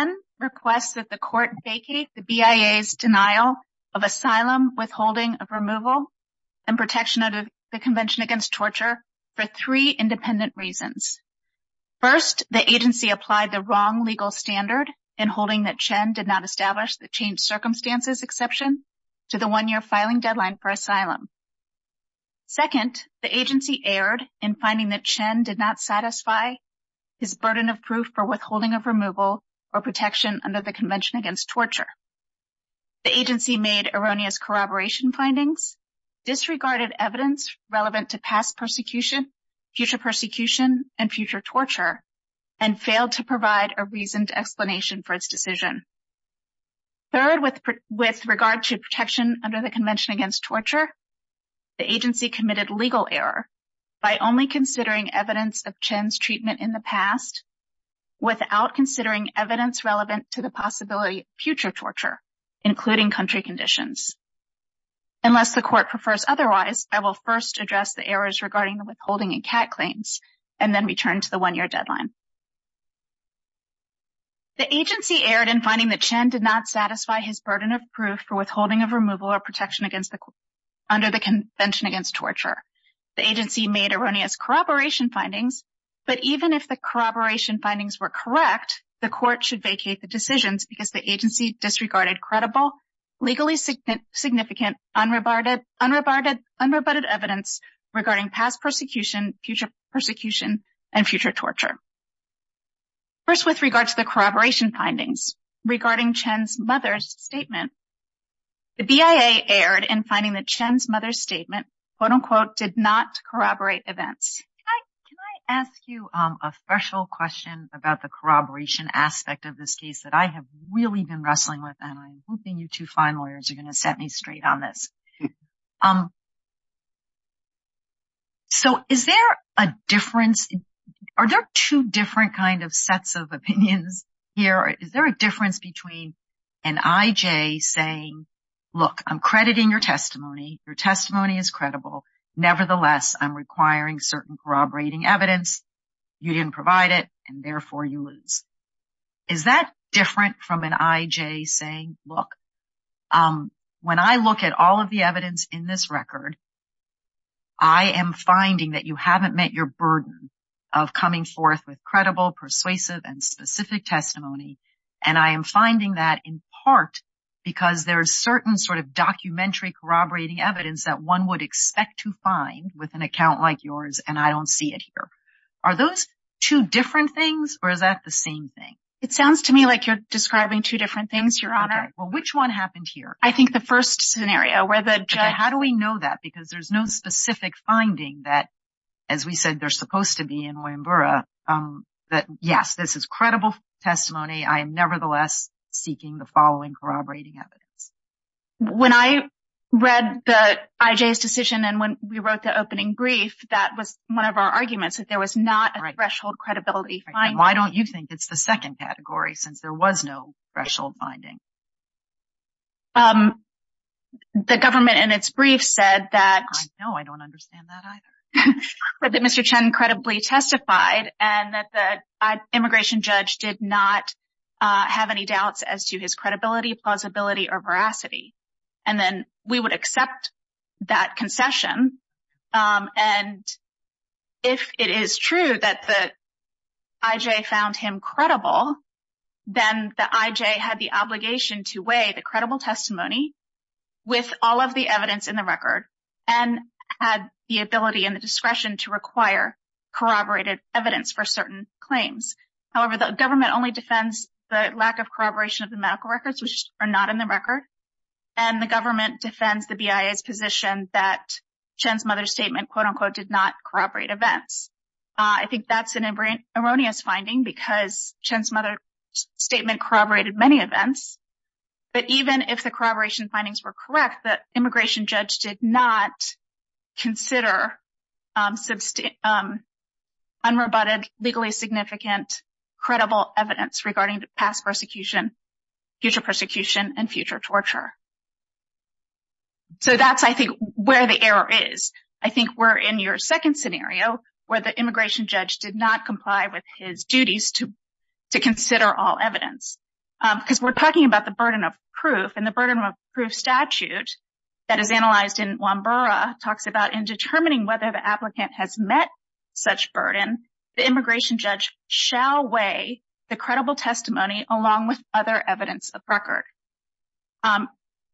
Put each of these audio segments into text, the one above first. Chen requests that the court vacate the BIA's denial of asylum, withholding of removal, and protection of the Convention Against Torture for three independent reasons. First, the agency applied the wrong legal standard in holding that Chen did not establish the changed circumstances exception to the one-year filing deadline for asylum. Second, the agency erred in finding that Chen did not satisfy his burden of proof for withholding of removal or protection under the Convention Against Torture. The agency made erroneous corroboration findings, disregarded evidence relevant to past persecution, future persecution, and future torture, and failed to provide a reasoned explanation for its decision. Third, with regard to protection under the Convention Against Torture, the agency committed legal error by only considering evidence of Chen's treatment in the past without considering evidence relevant to the possibility of future torture, including country conditions. Unless the court prefers otherwise, I will first address the errors regarding the withholding and CAT claims, and then return to the one-year deadline. The agency erred in finding that Chen did not satisfy his burden of proof for withholding of removal or protection under the Convention Against Torture. The agency made erroneous corroboration findings, but even if the corroboration findings were correct, the court should vacate the decisions because the agency disregarded credible, legally significant, unrebutted evidence regarding past persecution, future persecution, and future torture. First, with regard to the corroboration findings regarding Chen's mother's statement, the BIA erred in finding that Chen's mother's statement, quote-unquote, did not corroborate events. Can I ask you a special question about the corroboration aspect of this case that I have really been wrestling with, and I'm hoping you two fine lawyers are going to set me straight on this. So is there a difference? Are there two different kind of sets of opinions here? Is there a difference between an IJ saying, look, I'm crediting your testimony. Your testimony is credible. Nevertheless, I'm requiring certain corroborating evidence. You didn't provide it, and therefore you lose. Is that different from an IJ saying, look, when I look at all of the evidence in this record, I am finding that you haven't met your burden of coming forth with credible, persuasive, and specific testimony, and I am finding that in part because there is certain sort of documentary corroborating evidence that one would expect to find with an account like yours, and I don't see it here. Are those two different things, or is that the same thing? It sounds to me like you're describing two different things, Your Honor. Okay. Well, which one happened here? I think the first scenario where the judge— How do we know that? Because there's no specific finding that, as we said, they're supposed to be in Oyembura, that, yes, this is credible testimony. I am nevertheless seeking the following corroborating evidence. When I read the IJ's decision and when we wrote the opening brief, that was one of our arguments, that there was not a threshold credibility finding. Why don't you think it's the second category, since there was no threshold finding? The government, in its brief, said that— I know. I don't understand that either. —that Mr. Chen credibly testified and that the immigration judge did not have any doubts as to his credibility, plausibility, or veracity. And then we would accept that concession, and if it is true that the IJ found him credible, then the IJ had the obligation to weigh the credible testimony with all of the evidence in the record and had the ability and the discretion to require corroborated evidence for certain claims. However, the government only defends the lack of corroboration of the medical records, which are not in the record, and the government defends the BIA's position that Chen's mother's statement, quote-unquote, did not corroborate events. I think that's an erroneous finding because Chen's mother's statement corroborated many events. But even if the corroboration findings were correct, the immigration judge did not consider unrebutted, legally significant, credible evidence regarding past persecution, future persecution, and future torture. So that's, I think, where the error is. I think we're in your second scenario where the immigration judge did not comply with his duties to consider all evidence. Because we're talking about the burden of proof, and the burden of proof statute that is analyzed in Wambura talks about in determining whether the applicant has met such burden, the immigration judge shall weigh the credible testimony along with other evidence of record.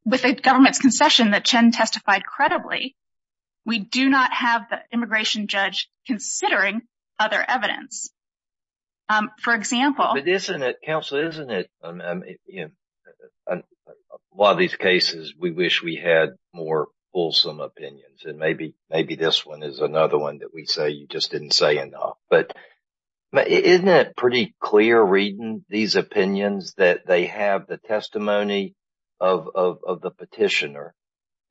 With the government's concession that Chen testified credibly, we do not have the immigration judge considering other evidence. For example... But isn't it, counsel, isn't it, in a lot of these cases, we wish we had more fulsome opinions. And maybe this one is another one that we say you just didn't say enough. But isn't it pretty clear reading these opinions that they have the testimony of the petitioner?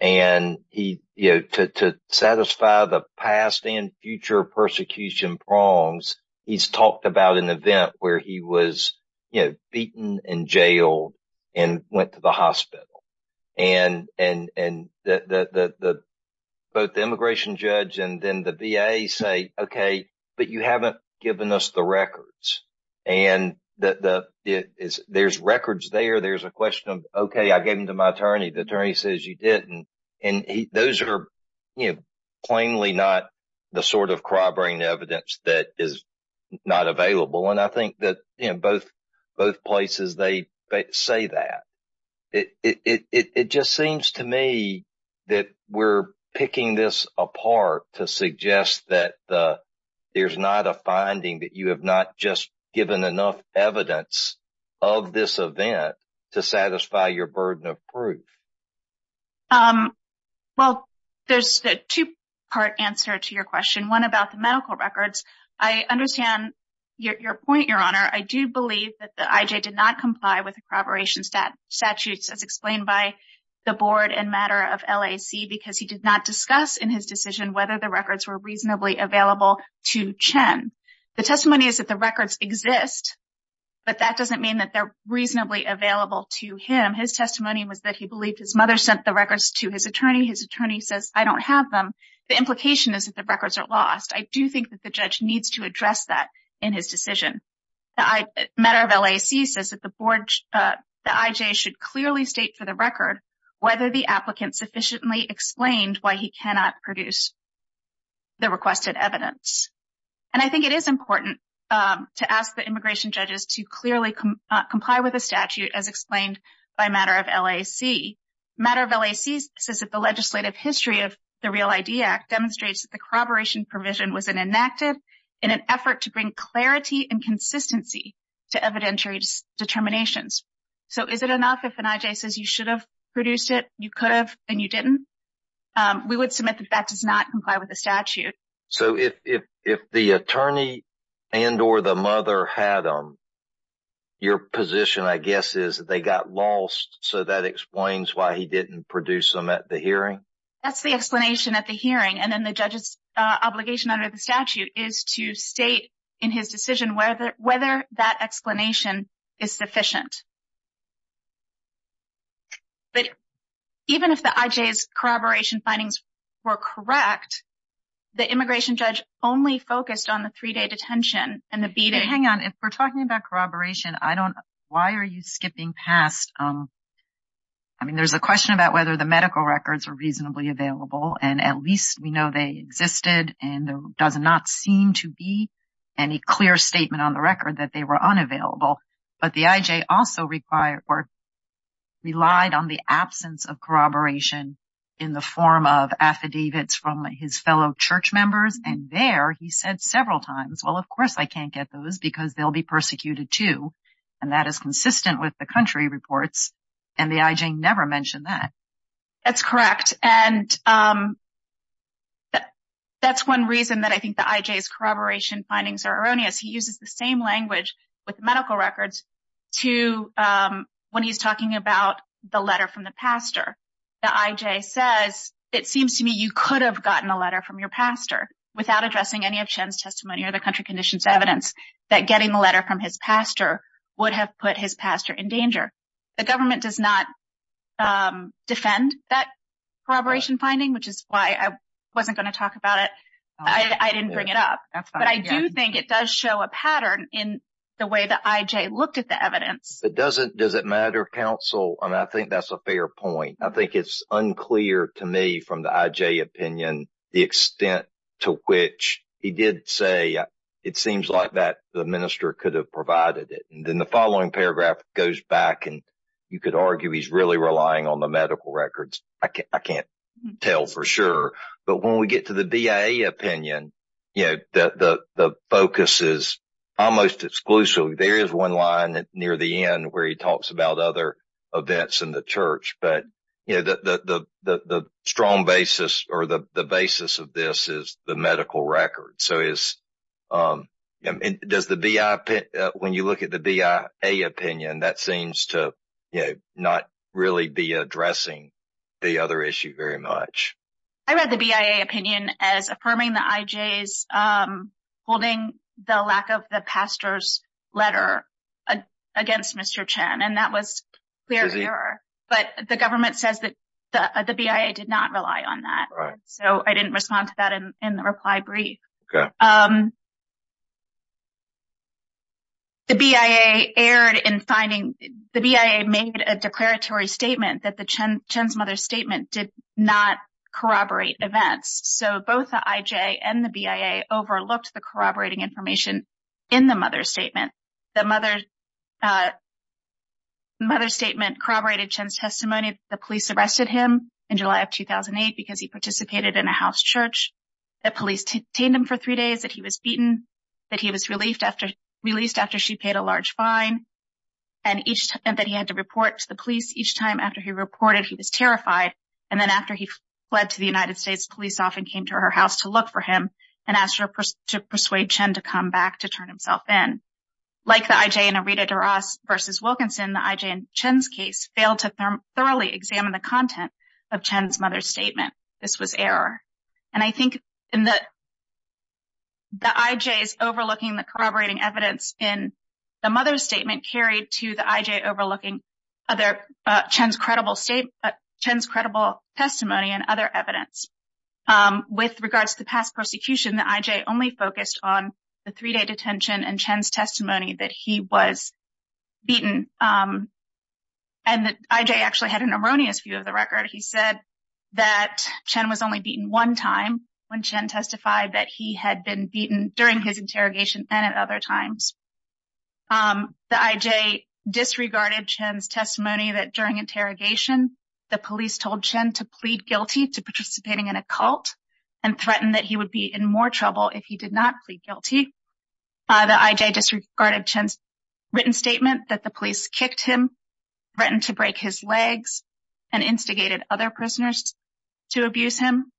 And he, you know, to satisfy the past and future persecution prongs, he's talked about an event where he was, you know, beaten and jailed and went to the hospital. And both the immigration judge and then the VA say, OK, but you haven't given us the records. And there's records there. There's a question of, OK, I gave them to my attorney. The attorney says you didn't. And those are plainly not the sort of crybrain evidence that is not available. And I think that both places, they say that. It just seems to me that we're picking this apart to suggest that there's not a finding that you have not just given enough evidence of this event to satisfy your burden of proof. Well, there's a two part answer to your question, one about the medical records. I understand your point, Your Honor. I do believe that the IJ did not comply with the corroboration statutes as explained by the board and matter of LAC, because he did not discuss in his decision whether the records were reasonably available to Chen. The testimony is that the records exist, but that doesn't mean that they're reasonably available to him. His testimony was that he believed his mother sent the records to his attorney. His attorney says, I don't have them. The implication is that the records are lost. I do think that the judge needs to address that in his decision. The matter of LAC says that the board, the IJ should clearly state for the record whether the applicant sufficiently explained why he cannot produce the requested evidence. And I think it is important to ask the immigration judges to clearly comply with the statute as explained by matter of LAC. Matter of LAC says that the legislative history of the Real ID Act demonstrates that the corroboration provision was enacted in an effort to bring clarity and consistency to evidentiary determinations. So is it enough if an IJ says you should have produced it, you could have, and you didn't? We would submit that that does not comply with the statute. So if the attorney and or the mother had them, your position I guess is that they got lost, so that explains why he didn't produce them at the hearing? That's the explanation at the hearing, and then the judge's obligation under the statute is to state in his decision whether that explanation is sufficient. But even if the IJ's corroboration findings were correct, the immigration judge only focused on the three-day detention and the beating. Hang on, if we're talking about corroboration, I don't, why are you skipping past? I mean, there's a question about whether the medical records are reasonably available, and at least we know they existed, and there does not seem to be any clear statement on the record that they were unavailable. But the IJ also relied on the absence of corroboration in the form of affidavits from his fellow church members, and there he said several times, well, of course I can't get those because they'll be persecuted too, and that is consistent with the country reports, and the IJ never mentioned that. That's correct, and that's one reason that I think the IJ's corroboration findings are erroneous. He uses the same language with medical records when he's talking about the letter from the pastor. The IJ says, it seems to me you could have gotten a letter from your pastor without addressing any of Chen's testimony or the country conditions evidence that getting the letter from his pastor would have put his pastor in danger. The government does not defend that corroboration finding, which is why I wasn't going to talk about it. I didn't bring it up, but I do think it does show a pattern in the way the IJ looked at the evidence. Does it matter, counsel? I mean, I think that's a fair point. I think it's unclear to me from the IJ opinion the extent to which he did say it seems like the minister could have provided it, and then the following paragraph goes back, and you could argue he's really relying on the medical records. I can't tell for sure, but when we get to the BIA opinion, the focus is almost exclusive. There is one line near the end where he talks about other events in the church, but the strong basis or the basis of this is the medical records. When you look at the BIA opinion, that seems to not really be addressing the other issue very much. I read the BIA opinion as affirming the IJ's holding the lack of the pastor's letter against Mr. Chen, and that was clear error. But the government says that the BIA did not rely on that, so I didn't respond to that in the reply brief. The BIA made a declaratory statement that Chen's mother's statement did not corroborate events, so both the IJ and the BIA overlooked the corroborating information in the mother's statement. The mother's statement corroborated Chen's testimony that the police arrested him in July of 2008 because he participated in a house church. The police detained him for three days, that he was beaten, that he was released after she paid a large fine, and that he had to report to the police each time after he reported he was terrified. And then after he fled to the United States, police often came to her house to look for him and asked her to persuade Chen to come back to turn himself in. Like the IJ and Irita de Ross v. Wilkinson, the IJ and Chen's case failed to thoroughly examine the content of Chen's mother's statement. This was error. And I think the IJ's overlooking the corroborating evidence in the mother's statement carried to the IJ overlooking Chen's credible testimony and other evidence. With regards to the past prosecution, the IJ only focused on the three-day detention and Chen's testimony that he was beaten. And the IJ actually had an erroneous view of the record. He said that Chen was only beaten one time when Chen testified that he had been beaten during his interrogation and at other times. The IJ disregarded Chen's testimony that during interrogation, the police told Chen to plead guilty to participating in a cult and threatened that he would be in more trouble if he did not plead guilty. The IJ disregarded Chen's written statement that the police kicked him, threatened to break his legs, and instigated other prisoners to abuse him.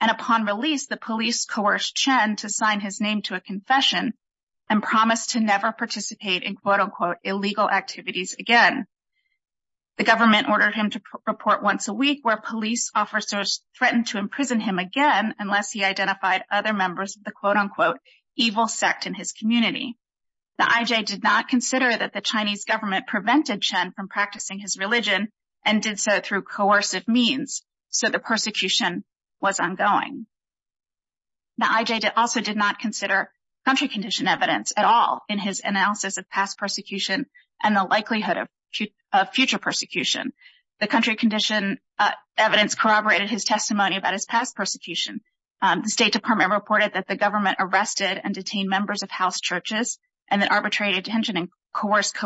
And upon release, the police coerced Chen to sign his name to a confession and promised to never participate in quote-unquote illegal activities again. The government ordered him to report once a week where police officers threatened to imprison him again unless he identified other members of the quote-unquote evil sect in his community. The IJ did not consider that the Chinese government prevented Chen from practicing his religion and did so through coercive means, so the persecution was ongoing. The IJ also did not consider country condition evidence at all in his analysis of past persecution and the likelihood of future persecution. The country condition evidence corroborated his testimony about his past persecution. The State Department reported that the government arrested and detained members of house churches and that arbitrary detention and coerced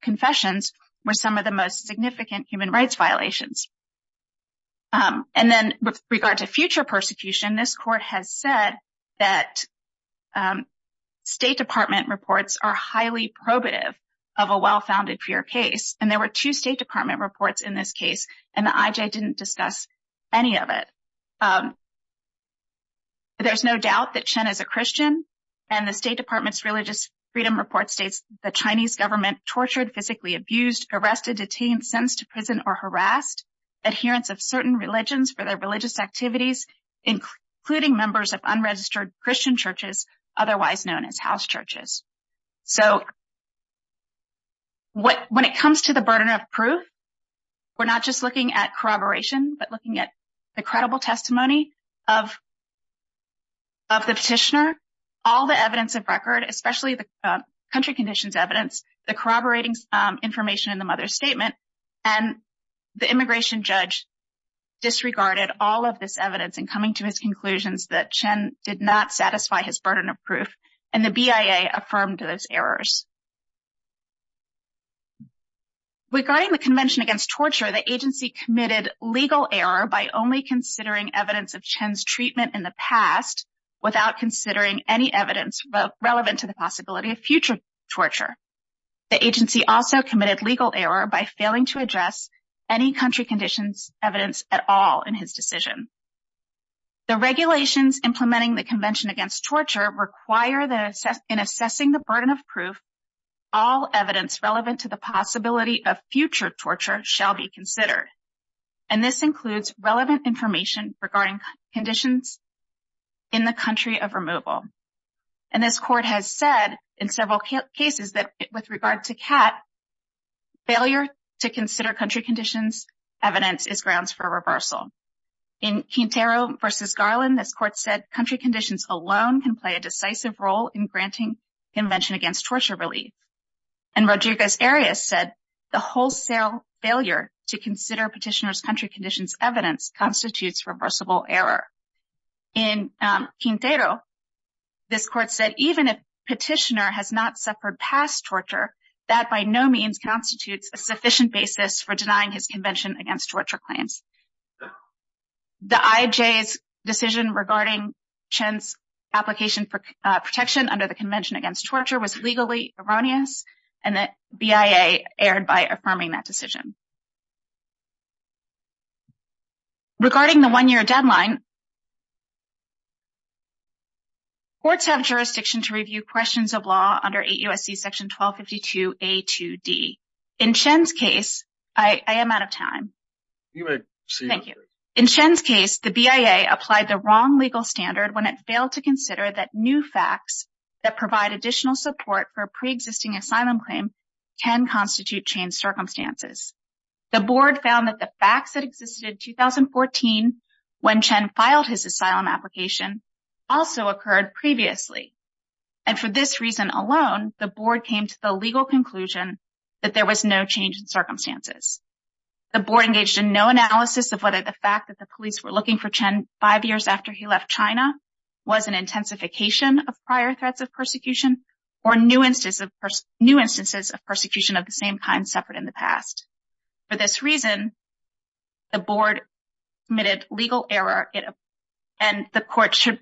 confessions were some of the most significant human rights violations. And then with regard to future persecution, this court has said that State Department reports are highly probative of a well-founded fear case. And there were two State Department reports in this case, and the IJ didn't discuss any of it. There's no doubt that Chen is a Christian, and the State Department's Religious Freedom Report states the Chinese government tortured, physically abused, arrested, detained, sentenced to prison, or harassed adherents of certain religions for their religious activities, including members of unregistered Christian churches, otherwise known as house churches. So when it comes to the burden of proof, we're not just looking at corroboration, but looking at the credible testimony of the petitioner, all the evidence of record, especially the country conditions evidence, the corroborating information in the mother's statement, and the immigration judge disregarded all of this evidence in coming to his conclusions that Chen did not satisfy his burden of proof. And the BIA affirmed those errors. Regarding the Convention Against Torture, the agency committed legal error by only considering evidence of Chen's treatment in the past without considering any evidence relevant to the possibility of future torture. The agency also committed legal error by failing to address any country conditions evidence at all in his decision. The regulations implementing the Convention Against Torture require that in assessing the burden of proof, all evidence relevant to the possibility of future torture shall be considered. And this includes relevant information regarding conditions in the country of removal. And this court has said in several cases that with regard to Cat, failure to consider country conditions evidence is grounds for reversal. In Quintero v. Garland, this court said country conditions alone can play a decisive role in granting Convention Against Torture relief. And Rodriguez Arias said the wholesale failure to consider petitioner's country conditions evidence constitutes reversible error. In Quintero, this court said even if petitioner has not suffered past torture, that by no means constitutes a sufficient basis for denying his Convention Against Torture claims. The IJ's decision regarding Chen's application for protection under the Convention Against Torture was legally erroneous, and the BIA erred by affirming that decision. Regarding the one-year deadline, courts have jurisdiction to review questions of law under 8 U.S.C. § 1252a-2d. In Chen's case, I am out of time. Thank you. In Chen's case, the BIA applied the wrong legal standard when it failed to consider that new facts that provide additional support for a pre-existing asylum claim can constitute changed circumstances. The board found that the facts that existed in 2014 when Chen filed his asylum application also occurred previously. And for this reason alone, the board came to the legal conclusion that there was no change in circumstances. The board engaged in no analysis of whether the fact that the police were looking for Chen five years after he left China was an intensification of prior threats of persecution, or new instances of persecution of the same kind suffered in the past. For this reason, the board committed legal error, and the court should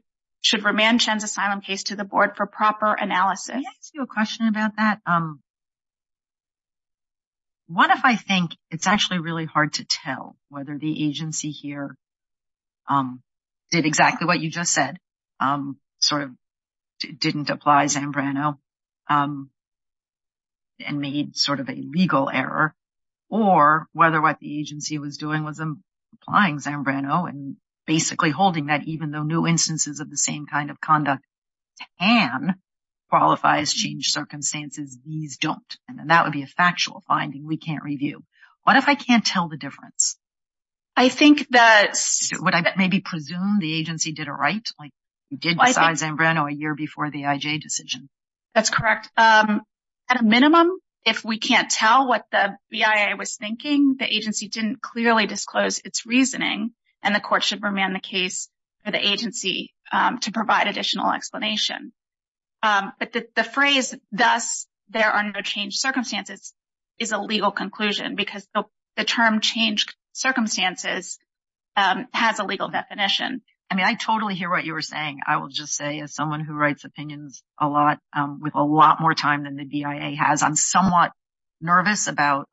remand Chen's asylum case to the board for proper analysis. Can I ask you a question about that? What if I think it's actually really hard to tell whether the agency here did exactly what you just said, sort of didn't apply Zambrano and made sort of a legal error, or whether what the agency was doing was applying Zambrano and basically holding that even though new instances of the same kind of conduct can qualify as changed circumstances, these don't? And then that would be a factual finding we can't review. What if I can't tell the difference? I think that... Would I maybe presume the agency did it right? Like, you did decide Zambrano a year before the IJ decision. That's correct. At a minimum, if we can't tell what the BIA was thinking, the agency didn't clearly disclose its reasoning, and the court should remand the case to the agency to provide additional explanation. But the phrase, thus, there are no changed circumstances is a legal conclusion, because the term changed circumstances has a legal definition. I mean, I totally hear what you were saying. I will just say, as someone who writes opinions a lot, with a lot more time than the BIA has, I'm somewhat nervous about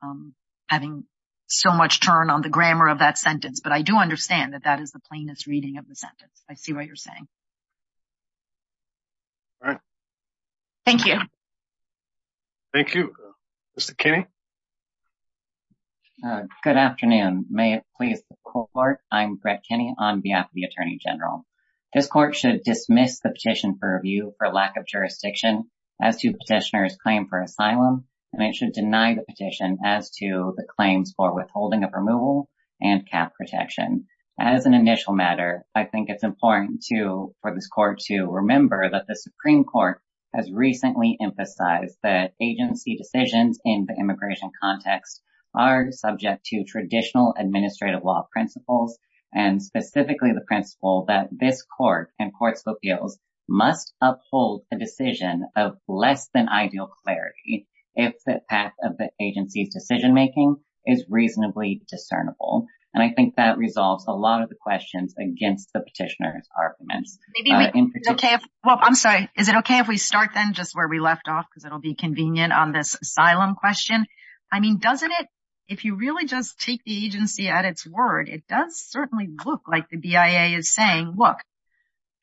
having so much turn on the grammar of that sentence. But I do understand that that is the plainest reading of the sentence. I see what you're saying. All right. Thank you. Thank you. Mr. Kinney? Good afternoon. May it please the court, I'm Brett Kinney on behalf of the Attorney General. This court should dismiss the petition for review for lack of jurisdiction as to petitioner's claim for asylum, and it should deny the petition as to the claims for withholding of removal and cap protection. As an initial matter, I think it's important for this court to remember that the Supreme Court has recently emphasized that agency decisions in the immigration context are subject to traditional administrative law principles, and specifically the principle that this court and courts of appeals must uphold a decision of less than ideal clarity if the path of the agency's decision-making is reasonably discernible. And I think that resolves a lot of the questions against the petitioner's arguments. Well, I'm sorry. Is it okay if we start then just where we left off because it will be convenient on this asylum question? I mean, doesn't it, if you really just take the agency at its word, it does certainly look like the BIA is saying, look,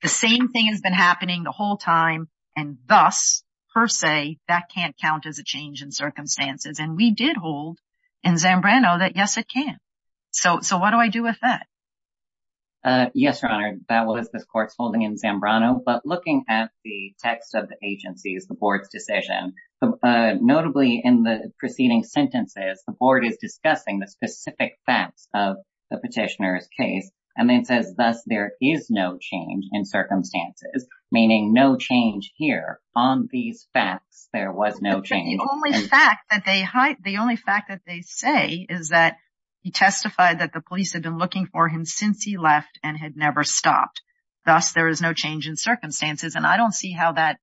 the same thing has been happening the whole time, and thus, per se, that can't count as a change in circumstances. And we did hold in Zambrano that, yes, it can. So what do I do with that? Yes, Your Honor, that was this court's holding in Zambrano. But looking at the text of the agency's, the board's decision, notably in the preceding sentences, the board is discussing the specific facts of the petitioner's case. And then it says, thus, there is no change in circumstances, meaning no change here. On these facts, there was no change. The only fact that they say is that he testified that the police had been looking for him since he left and had never stopped. Thus, there is no change in circumstances. And I don't see how that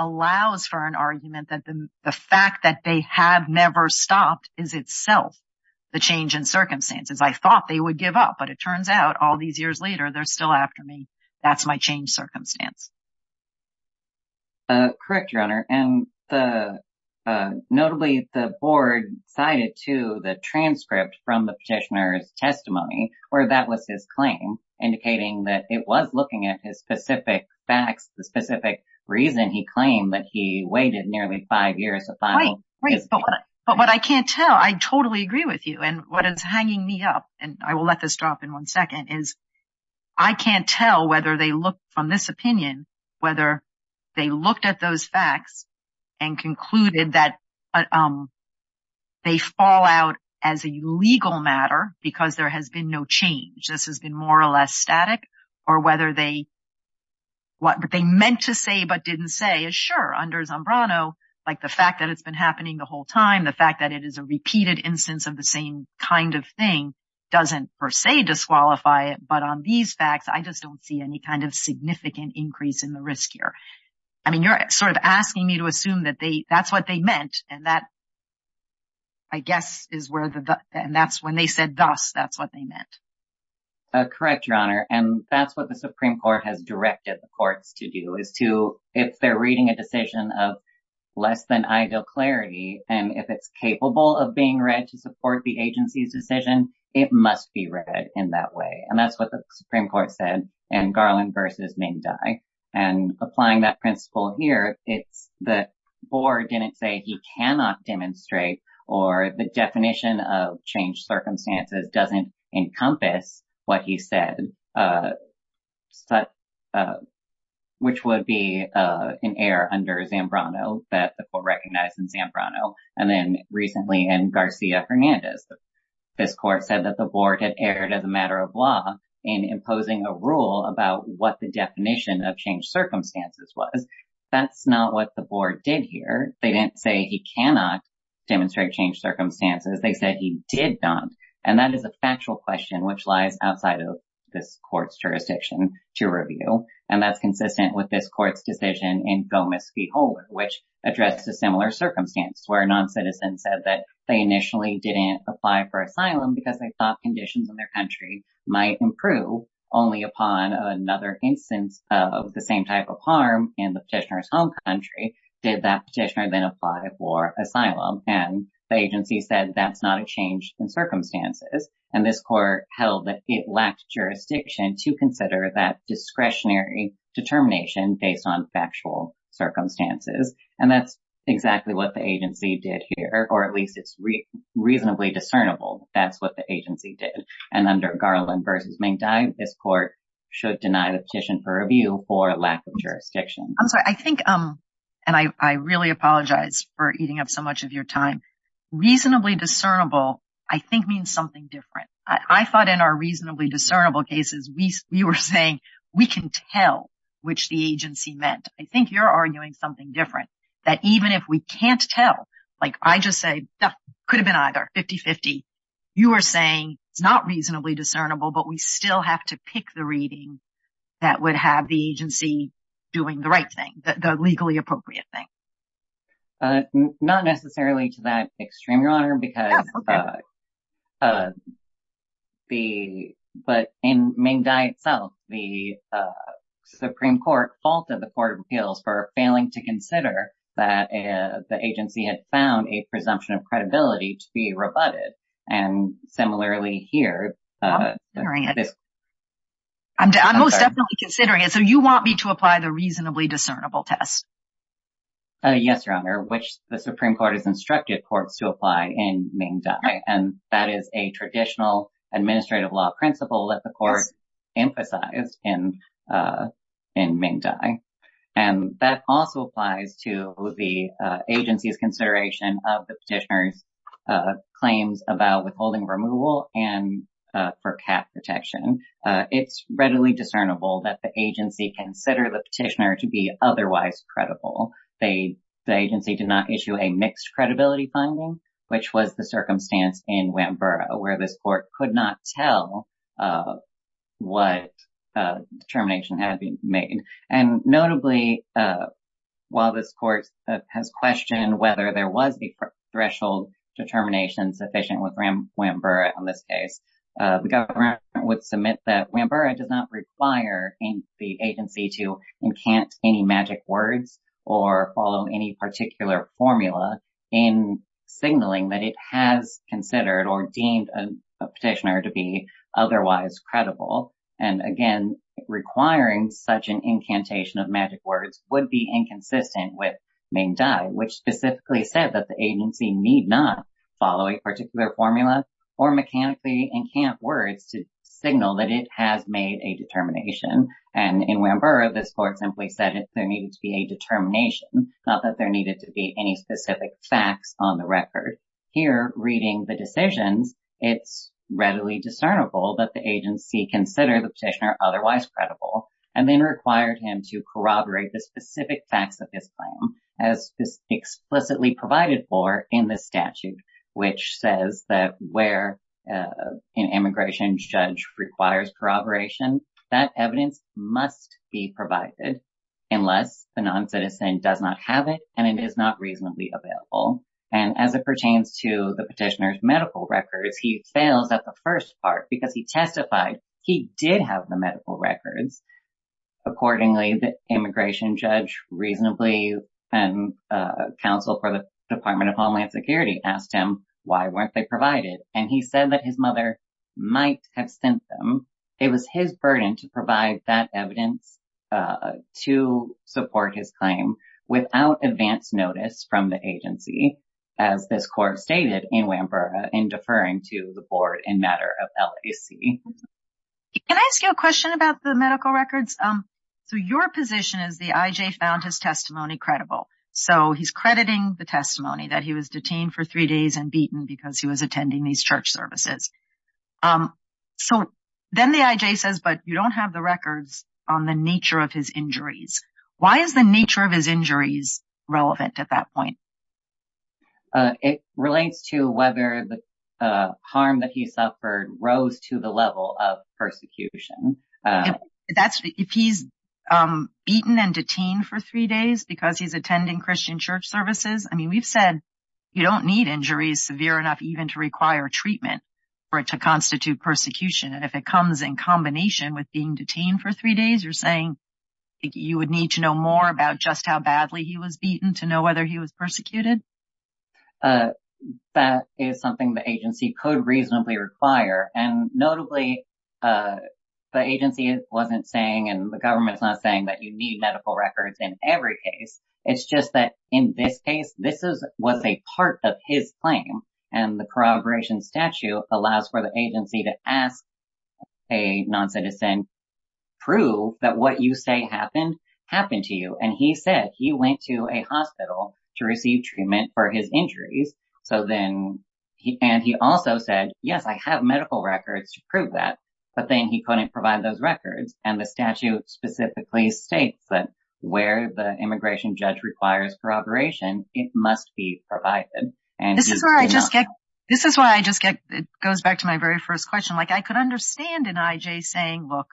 allows for an argument that the fact that they have never stopped is itself the change in circumstances. I thought they would give up. But it turns out all these years later, they're still after me. That's my change circumstance. Correct, Your Honor. And notably, the board cited to the transcript from the petitioner's testimony where that was his claim, indicating that it was looking at his specific facts, the specific reason he claimed that he waited nearly five years. But what I can't tell, I totally agree with you. And what is hanging me up, and I will let this drop in one second, is I can't tell whether they look from this opinion, whether they looked at those facts and concluded that they fall out as a legal matter because there has been no change. This has been more or less static. Or whether what they meant to say but didn't say is sure. Under Zambrano, like the fact that it's been happening the whole time, the fact that it is a repeated instance of the same kind of thing doesn't per se disqualify it. But on these facts, I just don't see any kind of significant increase in the risk here. I mean, you're sort of asking me to assume that that's what they meant. And that, I guess, is where the and that's when they said thus, that's what they meant. Correct, Your Honor. And that's what the Supreme Court has directed the courts to do is to, if they're reading a decision of less than ideal clarity, and if it's capable of being read to support the agency's decision, it must be read in that way. And that's what the Supreme Court said in Garland v. Mendy. And applying that principle here, it's the board didn't say he cannot demonstrate or the definition of changed circumstances doesn't encompass what he said. Which would be an error under Zambrano that the court recognized in Zambrano and then recently in Garcia-Fernandez. This court said that the board had erred as a matter of law in imposing a rule about what the definition of changed circumstances was. That's not what the board did here. They didn't say he cannot demonstrate changed circumstances. They said he did not. And that is a factual question which lies outside of this court's jurisdiction to review. And that's consistent with this court's decision in Gomez v. Holder, which addressed a similar circumstance, where a non-citizen said that they initially didn't apply for asylum because they thought conditions in their country might improve. Only upon another instance of the same type of harm in the petitioner's home country did that petitioner then apply for asylum. And the agency said that's not a change in circumstances. And this court held that it lacked jurisdiction to consider that discretionary determination based on factual circumstances. And that's exactly what the agency did here. Or at least it's reasonably discernible that's what the agency did. And under Garland v. Minkdy, this court should deny the petition for review for lack of jurisdiction. I'm sorry, I think, and I really apologize for eating up so much of your time. Reasonably discernible, I think, means something different. I thought in our reasonably discernible cases we were saying we can tell which the agency meant. I think you're arguing something different. That even if we can't tell, like I just said, could have been either, 50-50. You are saying it's not reasonably discernible, but we still have to pick the reading that would have the agency doing the right thing, the legally appropriate thing. Not necessarily to that extreme, Your Honor. But in Minkdy itself, the Supreme Court faulted the court of appeals for failing to consider that the agency had found a presumption of credibility to be rebutted. And similarly here. I'm most definitely considering it. So you want me to apply the reasonably discernible test? Yes, Your Honor, which the Supreme Court has instructed courts to apply in Minkdy. And that is a traditional administrative law principle that the court emphasized in Minkdy. And that also applies to the agency's consideration of the petitioner's claims about withholding removal and for cap protection. It's readily discernible that the agency considered the petitioner to be otherwise credible. The agency did not issue a mixed credibility finding, which was the circumstance in Wamboura, where this court could not tell what determination had been made. And notably, while this court has questioned whether there was a threshold determination sufficient with Wamboura in this case, the government would submit that Wamboura does not require the agency to enchant any magic words or follow any particular formula in signaling that it has considered or deemed a petitioner to be otherwise credible. And again, requiring such an incantation of magic words would be inconsistent with Minkdy, which specifically said that the agency need not follow a particular formula or mechanically enchant words to signal that it has made a determination. And in Wamboura, this court simply said there needed to be a determination, not that there needed to be any specific facts on the record. Here, reading the decisions, it's readily discernible that the agency considered the petitioner otherwise credible and then required him to corroborate the specific facts of his claim, as is explicitly provided for in the statute, which says that where an immigration judge requires corroboration, that evidence must be provided unless the non-citizen does not have it and it is not reasonably available. And as it pertains to the petitioner's medical records, he fails at the first part because he testified he did have the medical records. Accordingly, the immigration judge reasonably and counsel for the Department of Homeland Security asked him why weren't they provided? And he said that his mother might have sent them. It was his burden to provide that evidence to support his claim without advance notice from the agency, as this court stated in Wamboura in deferring to the board in matter of LAC. Can I ask you a question about the medical records? So your position is the IJ found his testimony credible. So he's crediting the testimony that he was detained for three days and beaten because he was attending these church services. So then the IJ says, but you don't have the records on the nature of his injuries. Why is the nature of his injuries relevant at that point? It relates to whether the harm that he suffered rose to the level of persecution. That's if he's beaten and detained for three days because he's attending Christian church services. I mean, we've said you don't need injuries severe enough even to require treatment for it to constitute persecution. And if it comes in combination with being detained for three days, you're saying you would need to know more about just how badly he was beaten to know whether he was persecuted. That is something the agency could reasonably require. And notably, the agency wasn't saying and the government's not saying that you need medical records in every case. It's just that in this case, this is what's a part of his claim. And the corroboration statute allows for the agency to ask a non-citizen, prove that what you say happened, happened to you. And he said he went to a hospital to receive treatment for his injuries. So then he and he also said, yes, I have medical records to prove that. But then he couldn't provide those records. And the statute specifically states that where the immigration judge requires corroboration, it must be provided. And this is where I just get this is why I just get it goes back to my very first question. Like I could understand an IJ saying, look,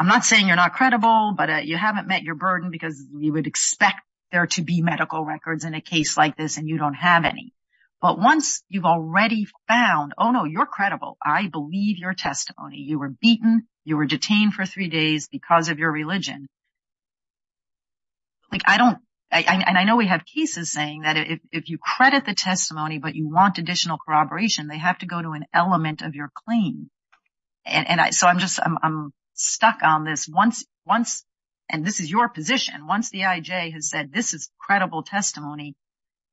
I'm not saying you're not credible, but you haven't met your burden because you would expect there to be medical records in a case like this and you don't have any. But once you've already found, oh, no, you're credible, I believe your testimony, you were beaten, you were detained for three days because of your religion. Like I don't and I know we have cases saying that if you credit the testimony, but you want additional corroboration, they have to go to an element of your claim. And so I'm just I'm stuck on this once, once and this is your position. Once the IJ has said this is credible testimony,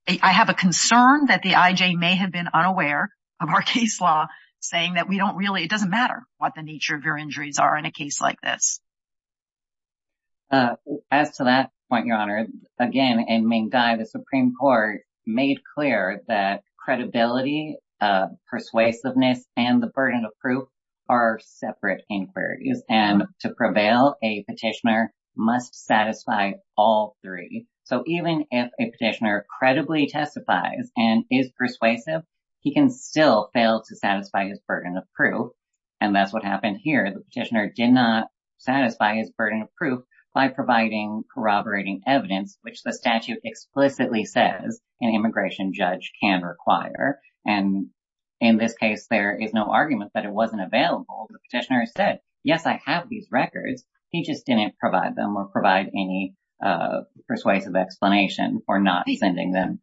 I have a concern that the IJ may have been unaware of our case law saying that we don't really it doesn't matter what the nature of your injuries are in a case like this. As to that point, your honor, again, a main guy, the Supreme Court made clear that credibility, persuasiveness and the burden of proof are separate inquiries. And to prevail, a petitioner must satisfy all three. So even if a petitioner credibly testifies and is persuasive, he can still fail to satisfy his burden of proof. And that's what happened here. The petitioner did not satisfy his burden of proof by providing corroborating evidence, which the statute explicitly says an immigration judge can require. And in this case, there is no argument that it wasn't available. The petitioner said, yes, I have these records. He just didn't provide them or provide any persuasive explanation for not sending them.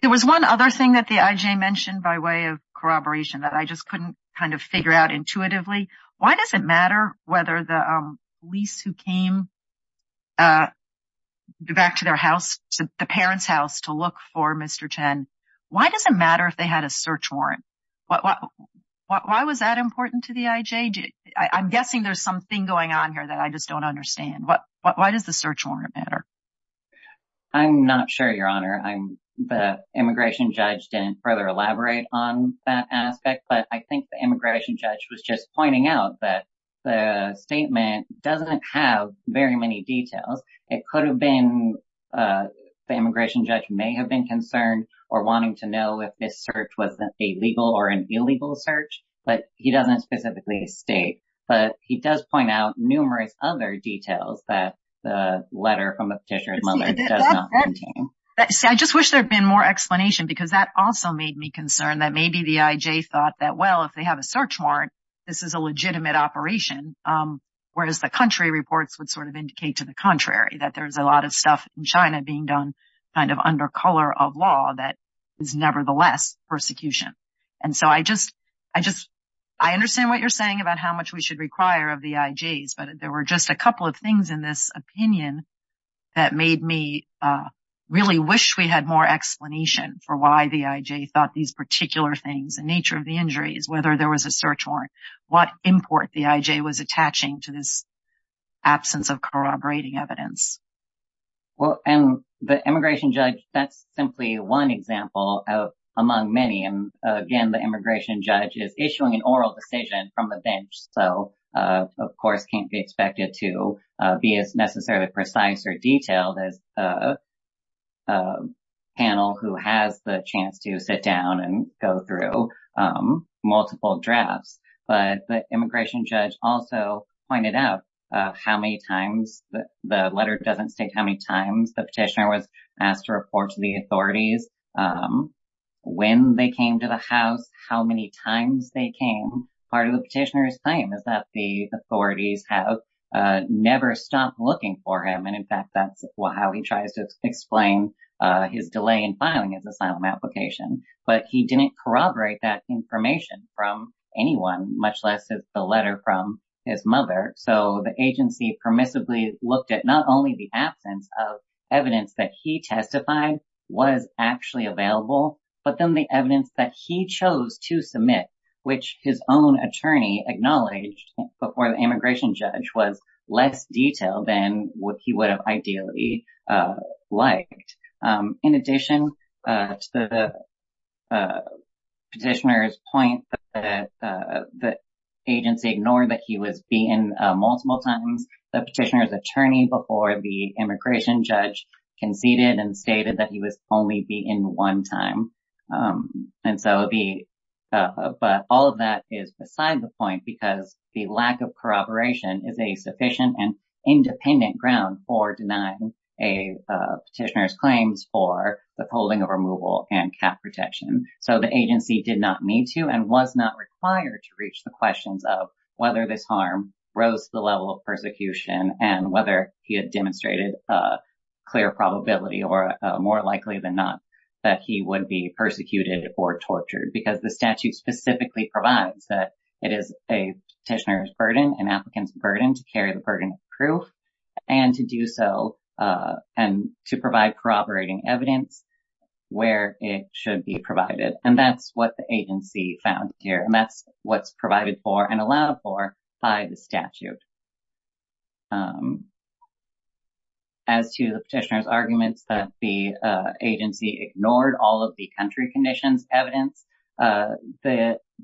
There was one other thing that the IJ mentioned by way of corroboration that I just couldn't kind of figure out intuitively. Why does it matter whether the police who came back to their house, the parents' house to look for Mr. Chen, why does it matter if they had a search warrant? Why was that important to the IJ? I'm guessing there's something going on here that I just don't understand. Why does the search warrant matter? I'm not sure, Your Honor. The immigration judge didn't further elaborate on that aspect, but I think the immigration judge was just pointing out that the statement doesn't have very many details. It could have been the immigration judge may have been concerned or wanting to know if this search was a legal or an illegal search, but he doesn't specifically state. But he does point out numerous other details that the letter from the petitioner's mother does not contain. I just wish there had been more explanation because that also made me concerned that maybe the IJ thought that, well, if they have a search warrant, this is a legitimate operation. Whereas the country reports would sort of indicate to the contrary that there's a lot of stuff in China being done kind of under color of law that is nevertheless persecution. I understand what you're saying about how much we should require of the IJs, but there were just a couple of things in this opinion that made me really wish we had more explanation for why the IJ thought these particular things, the nature of the injuries, whether there was a search warrant, what import the IJ was attaching to this absence of corroborating evidence. Well, and the immigration judge, that's simply one example among many. And again, the immigration judge is issuing an oral decision from the bench, so of course, can't be expected to be as necessarily precise or detailed as a panel who has the chance to sit down and go through multiple drafts. But the immigration judge also pointed out how many times the letter doesn't state how many times the petitioner was asked to report to the authorities when they came to the house, how many times they came. Part of the petitioner's claim is that the authorities have never stopped looking for him, and in fact, that's how he tries to explain his delay in filing his asylum application. But he didn't corroborate that information from anyone, much less the letter from his mother. So the agency permissibly looked at not only the absence of evidence that he testified was actually available, but then the evidence that he chose to submit, which his own attorney acknowledged before the immigration judge, was less detailed than what he would have ideally liked. In addition to the petitioner's point that the agency ignored that he was beaten multiple times, the petitioner's attorney before the immigration judge conceded and stated that he was only beaten one time. But all of that is beside the point because the lack of corroboration is a sufficient and independent ground for denying a petitioner's claims for the holding of removal and cap protection. So the agency did not need to and was not required to reach the questions of whether this harm rose to the level of persecution and whether he had demonstrated a clear probability or more likely than not that he would be persecuted or tortured. Because the statute specifically provides that it is a petitioner's burden, an applicant's burden, to carry the burden of proof and to do so and to provide corroborating evidence where it should be provided. And that's what the agency found here and that's what's provided for and allowed for by the statute. As to the petitioner's arguments that the agency ignored all of the country conditions evidence,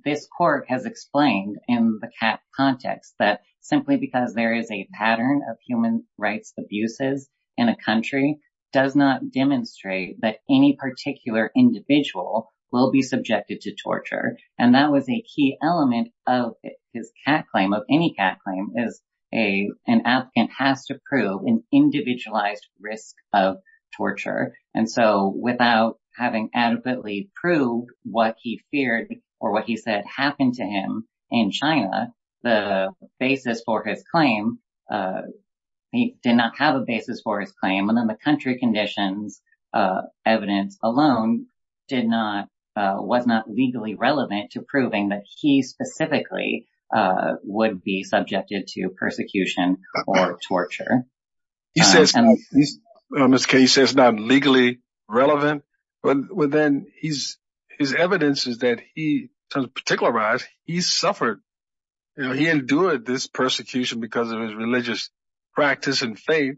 this court has explained in the CAT context that simply because there is a pattern of human rights abuses in a country does not demonstrate that any particular individual will be subjected to torture. And that was a key element of his CAT claim, of any CAT claim, is an applicant has to prove an individualized risk of torture. And so without having adequately proved what he feared or what he said happened to him in China, the basis for his claim, he did not have a basis for his claim. And then the country conditions evidence alone did not, was not legally relevant to proving that he specifically would be subjected to persecution or torture. He says, Mr. Kaye, he says it's not legally relevant. But then his evidence is that he, to particularize, he suffered, you know, he endured this persecution because of his religious practice and faith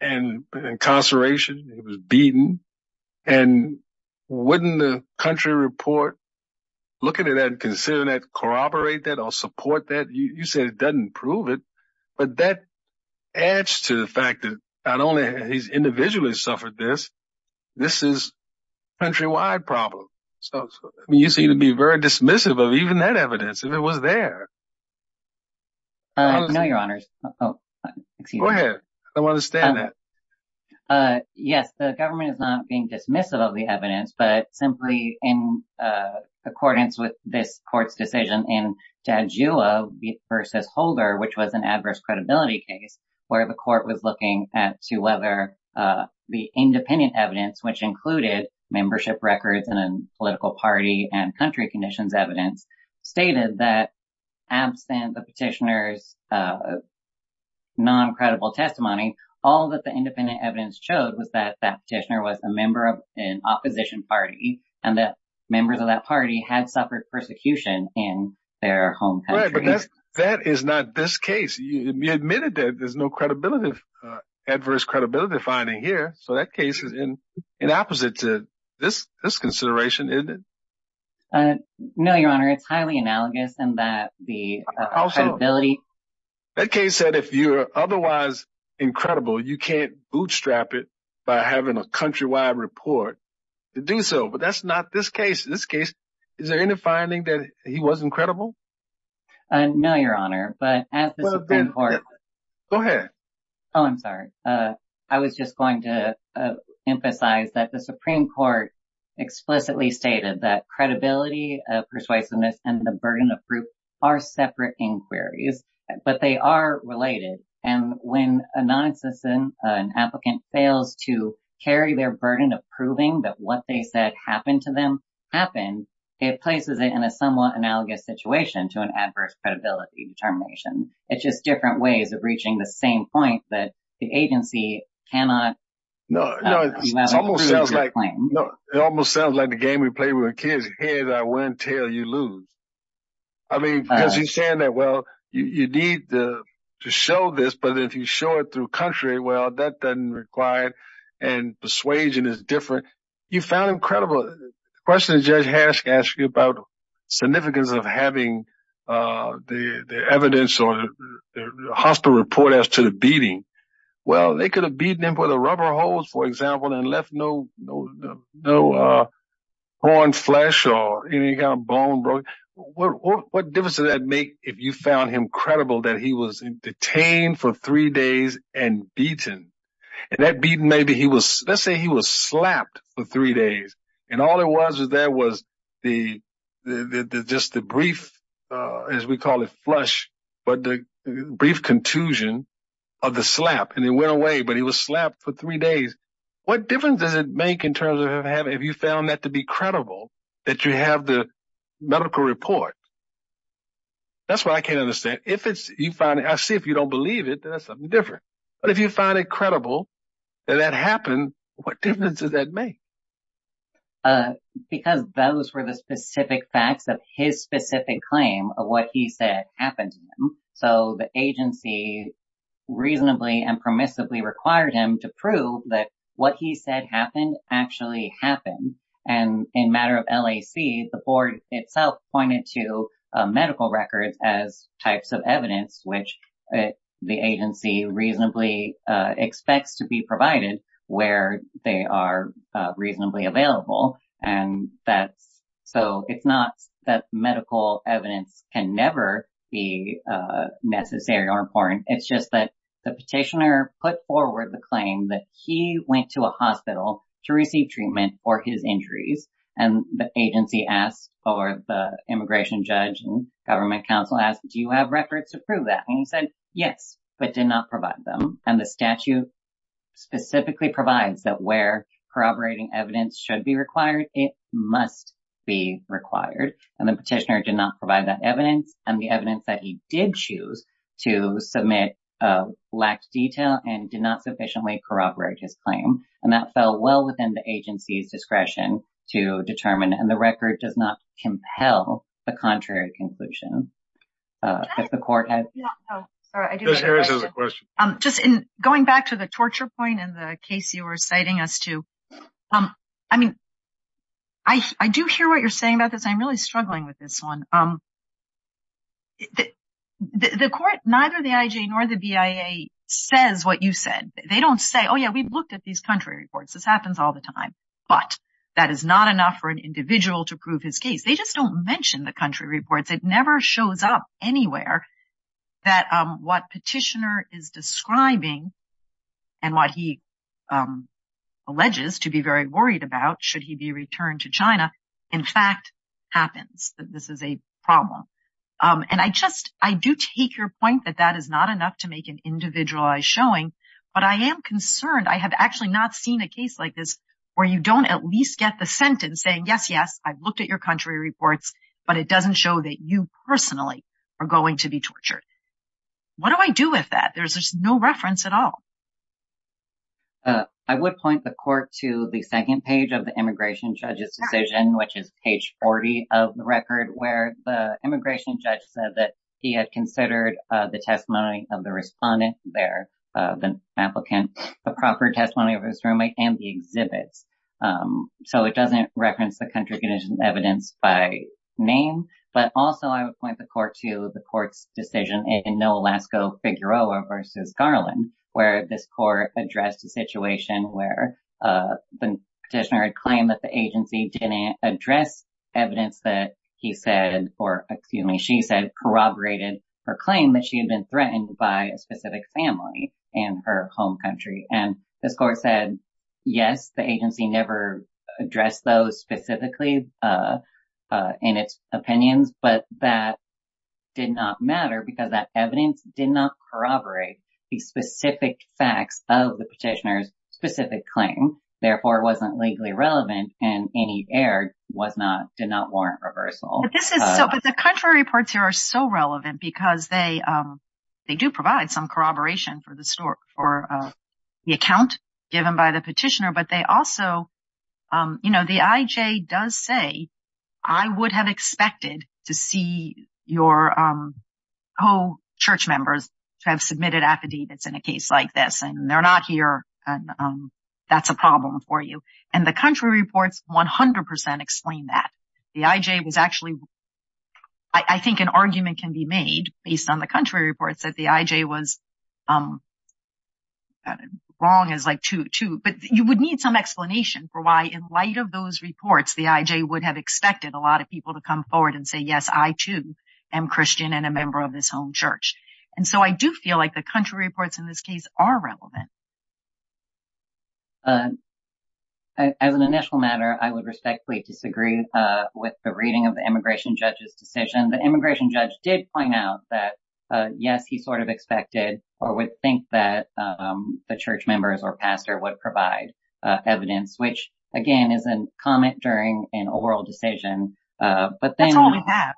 and incarceration. He was beaten. And wouldn't the country report looking at that and considering that corroborate that or support that? You said it doesn't prove it. But that adds to the fact that not only has he individually suffered this, this is a countrywide problem. You seem to be very dismissive of even that evidence, if it was there. No, Your Honors. Go ahead. I don't understand that. Yes, the government is not being dismissive of the evidence, but simply in accordance with this court's decision in Dajua v. Holder, which was an adverse credibility case where the court was looking at to whether the independent evidence, which included membership records in a political party and country conditions, stated that absent the petitioner's non-credible testimony, all that the independent evidence showed was that that petitioner was a member of an opposition party and that members of that party had suffered persecution in their home country. But that is not this case. You admitted that there's no credibility, adverse credibility finding here. So that case is in opposite to this consideration, isn't it? No, Your Honor. It's highly analogous in that the credibility. That case said if you're otherwise incredible, you can't bootstrap it by having a countrywide report to do so. But that's not this case. In this case, is there any finding that he was incredible? No, Your Honor. But at the Supreme Court. Go ahead. Oh, I'm sorry. I was just going to emphasize that the Supreme Court explicitly stated that credibility, persuasiveness and the burden of proof are separate inquiries, but they are related. And when a non-existent, an applicant fails to carry their burden of proving that what they said happened to them happened, it places it in a somewhat analogous situation to an adverse credibility determination. It's just different ways of reaching the same point that the agency cannot. No, no, no. It almost sounds like the game we play with kids. Here I went till you lose. I mean, because he's saying that, well, you need to show this. But if you show it through country, well, that doesn't require and persuasion is different. You found him credible. The question is, Judge Hask asked you about the significance of having the evidence or the hospital report as to the beating. Well, they could have beaten him with a rubber hose, for example, and left no, no, no horn flesh or any kind of bone broken. What difference does that make if you found him credible that he was detained for three days and beaten? And that beating, maybe he was, let's say he was slapped for three days. And all it was is there was the just the brief, as we call it, flush, but the brief contusion of the slap. And he went away, but he was slapped for three days. What difference does it make in terms of if you found that to be credible that you have the medical report? That's what I can't understand. If it's you find it, I see if you don't believe it, that's something different. But if you find it credible that that happened, what difference does that make? Because those were the specific facts of his specific claim of what he said happened. So the agency reasonably and permissively required him to prove that what he said happened actually happened. And in matter of LAC, the board itself pointed to medical records as types of evidence, which the agency reasonably expects to be provided where they are reasonably available. And that's so it's not that medical evidence can never be necessary or important. It's just that the petitioner put forward the claim that he went to a hospital to receive treatment for his injuries. And the agency asked or the immigration judge and government counsel asked, do you have records to prove that? And he said yes, but did not provide them. And the statute specifically provides that where corroborating evidence should be required, it must be required. And the petitioner did not provide that evidence and the evidence that he did choose to submit lacked detail and did not sufficiently corroborate his claim. And that fell well within the agency's discretion to determine. And the record does not compel the contrary conclusion that the court has. Just going back to the torture point in the case you were citing us to. I mean, I do hear what you're saying about this. I'm really struggling with this one. The court, neither the IJ nor the BIA says what you said. They don't say, oh, yeah, we've looked at these country reports. This happens all the time. But that is not enough for an individual to prove his case. They just don't mention the country reports. It never shows up anywhere that what petitioner is describing. And what he alleges to be very worried about, should he be returned to China, in fact, happens. This is a problem. And I just I do take your point that that is not enough to make an individualized showing. But I am concerned I have actually not seen a case like this where you don't at least get the sentence saying, yes, yes, I've looked at your country reports. But it doesn't show that you personally are going to be tortured. What do I do with that? There's just no reference at all. I would point the court to the second page of the immigration judge's decision, which is page 40 of the record where the immigration judge said that he had considered the testimony of the respondent there, the applicant, the proper testimony of his roommate and the exhibits. So it doesn't reference the country evidence by name. But also, I would point the court to the court's decision in Noh, Alaska, Figueroa versus Garland, where this court addressed a situation where the petitioner had claimed that the agency didn't address evidence that he said or, excuse me, she said corroborated her claim that she had been threatened by a specific family in her home country. And this court said, yes, the agency never addressed those specifically in its opinions, but that did not matter because that evidence did not corroborate the specific facts of the petitioner's specific claim. Therefore, it wasn't legally relevant and any error was not did not warrant reversal. But the country reports here are so relevant because they do provide some corroboration for the account given by the petitioner. But they also, you know, the IJ does say, I would have expected to see your co-church members to have submitted affidavits in a case like this. And they're not here. That's a problem for you. And the country reports 100 percent explain that. The IJ was actually I think an argument can be made based on the country reports that the IJ was wrong as like to to. But you would need some explanation for why in light of those reports, the IJ would have expected a lot of people to come forward and say, yes, I, too, am Christian and a member of this home church. And so I do feel like the country reports in this case are relevant. As an initial matter, I would respectfully disagree with the reading of the immigration judge's decision. The immigration judge did point out that, yes, he sort of expected or would think that the church members or pastor would provide evidence, which, again, is a comment during an oral decision. That's all we have.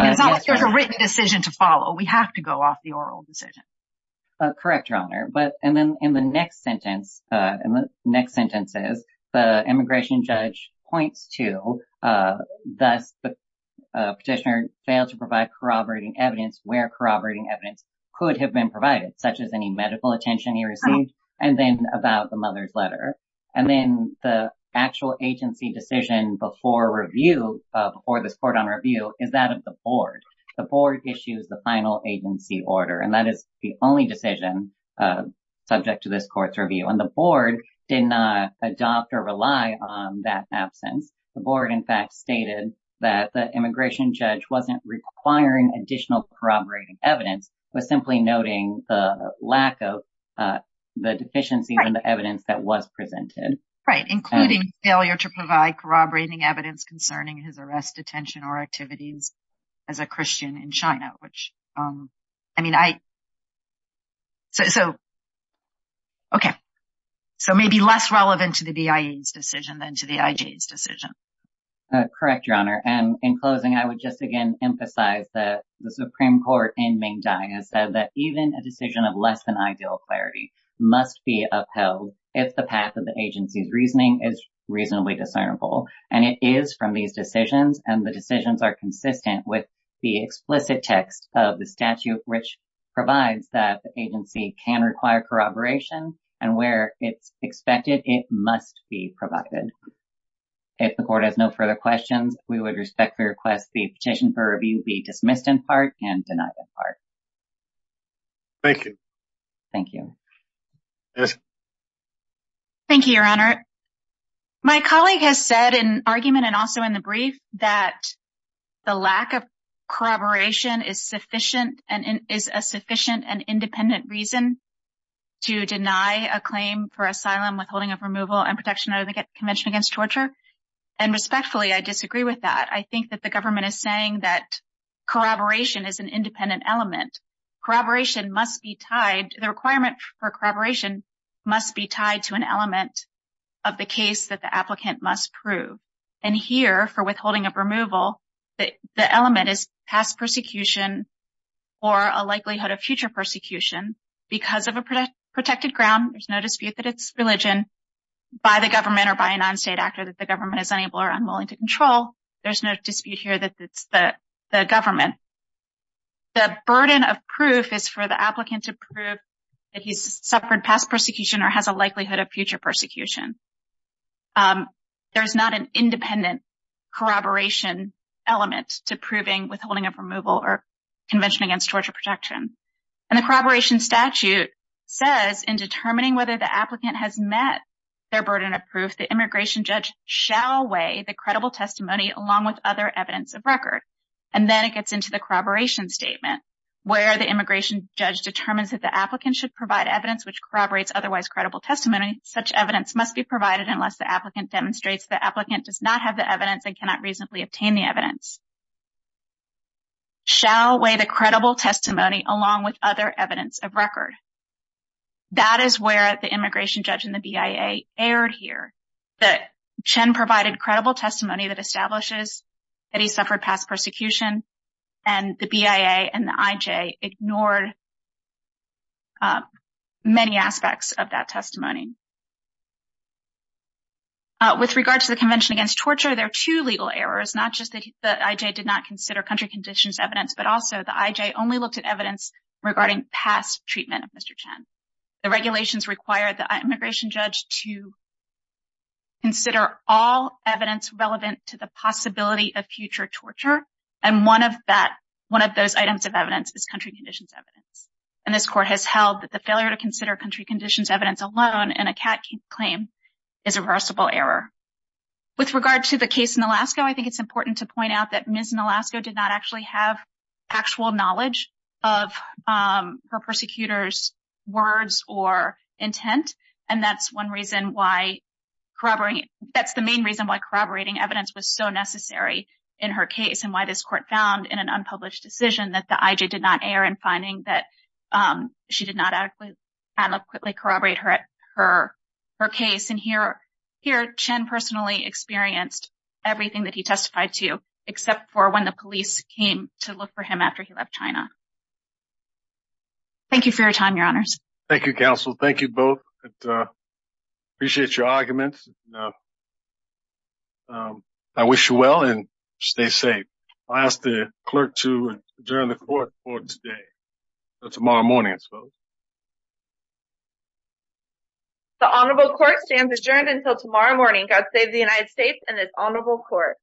It's not like there's a written decision to follow. We have to go off the oral decision. Correct, Your Honor. And then in the next sentence, in the next sentences, the immigration judge points to, thus the petitioner failed to provide corroborating evidence where corroborating evidence could have been provided, such as any medical attention he received and then about the mother's letter. And then the actual agency decision before review or this court on review is that of the board. The board issues the final agency order, and that is the only decision subject to this court's review. And the board did not adopt or rely on that absence. The board, in fact, stated that the immigration judge wasn't requiring additional corroborating evidence, but simply noting the lack of the deficiency in the evidence that was presented. Right. Including failure to provide corroborating evidence concerning his arrest, detention or activities as a Christian in China, which I mean, I. So. OK, so maybe less relevant to the BIA's decision than to the IJ's decision. Correct, Your Honor. And in closing, I would just, again, emphasize that the Supreme Court in Ming Dang has said that even a decision of less than ideal clarity must be upheld if the path of the agency's reasoning is reasonably discernible. And it is from these decisions and the decisions are consistent with the explicit text of the statute, which provides that the agency can require corroboration and where it's expected it must be provided. If the court has no further questions, we would respectfully request the petition for review be dismissed in part and denied in part. Thank you. Thank you. Thank you, Your Honor. My colleague has said in argument and also in the brief that the lack of corroboration is sufficient and is a sufficient and independent reason to deny a claim for asylum, withholding of removal and protection under the Convention Against Torture. And respectfully, I disagree with that. I think that the government is saying that corroboration is an independent element. Corroboration must be tied. The requirement for corroboration must be tied to an element of the case that the applicant must prove. And here for withholding of removal, the element is past persecution or a likelihood of future persecution because of a protected ground. There's no dispute that it's religion by the government or by a non-state actor that the government is unable or unwilling to control. There's no dispute here that it's the government. The burden of proof is for the applicant to prove that he's suffered past persecution or has a likelihood of future persecution. There's not an independent corroboration element to proving withholding of removal or Convention Against Torture protection. And the corroboration statute says in determining whether the applicant has met their burden of proof, the immigration judge shall weigh the credible testimony along with other evidence of record. And then it gets into the corroboration statement where the immigration judge determines that the applicant should provide evidence which corroborates otherwise credible testimony. Such evidence must be provided unless the applicant demonstrates the applicant does not have the evidence and cannot reasonably obtain the evidence. Shall weigh the credible testimony along with other evidence of record. That is where the immigration judge and the BIA erred here. Chen provided credible testimony that establishes that he suffered past persecution and the BIA and the IJ ignored many aspects of that testimony. With regard to the Convention Against Torture, there are two legal errors, not just that the IJ did not consider country conditions evidence, but also the IJ only looked at evidence regarding past treatment of Mr. Chen. The regulations require the immigration judge to consider all evidence relevant to the possibility of future torture. And one of that, one of those items of evidence is country conditions evidence. And this court has held that the failure to consider country conditions evidence alone in a CAT claim is a reversible error. With regard to the case in Alaska, I think it's important to point out that Ms. Nolasco did not actually have actual knowledge of her persecutors' words or intent. And that's one reason why corroborating, that's the main reason why corroborating evidence was so necessary in her case and why this court found in an unpublished decision that the IJ did not err in finding that she did not adequately corroborate her case. And here, Chen personally experienced everything that he testified to, except for when the police came to look for him after he left China. Thank you for your time, your honors. Thank you, counsel. Thank you both. I appreciate your arguments. I wish you well and stay safe. I'll ask the clerk to adjourn the court for today. Tomorrow morning, I suppose. The honorable court stands adjourned until tomorrow morning. God save the United States and this honorable court.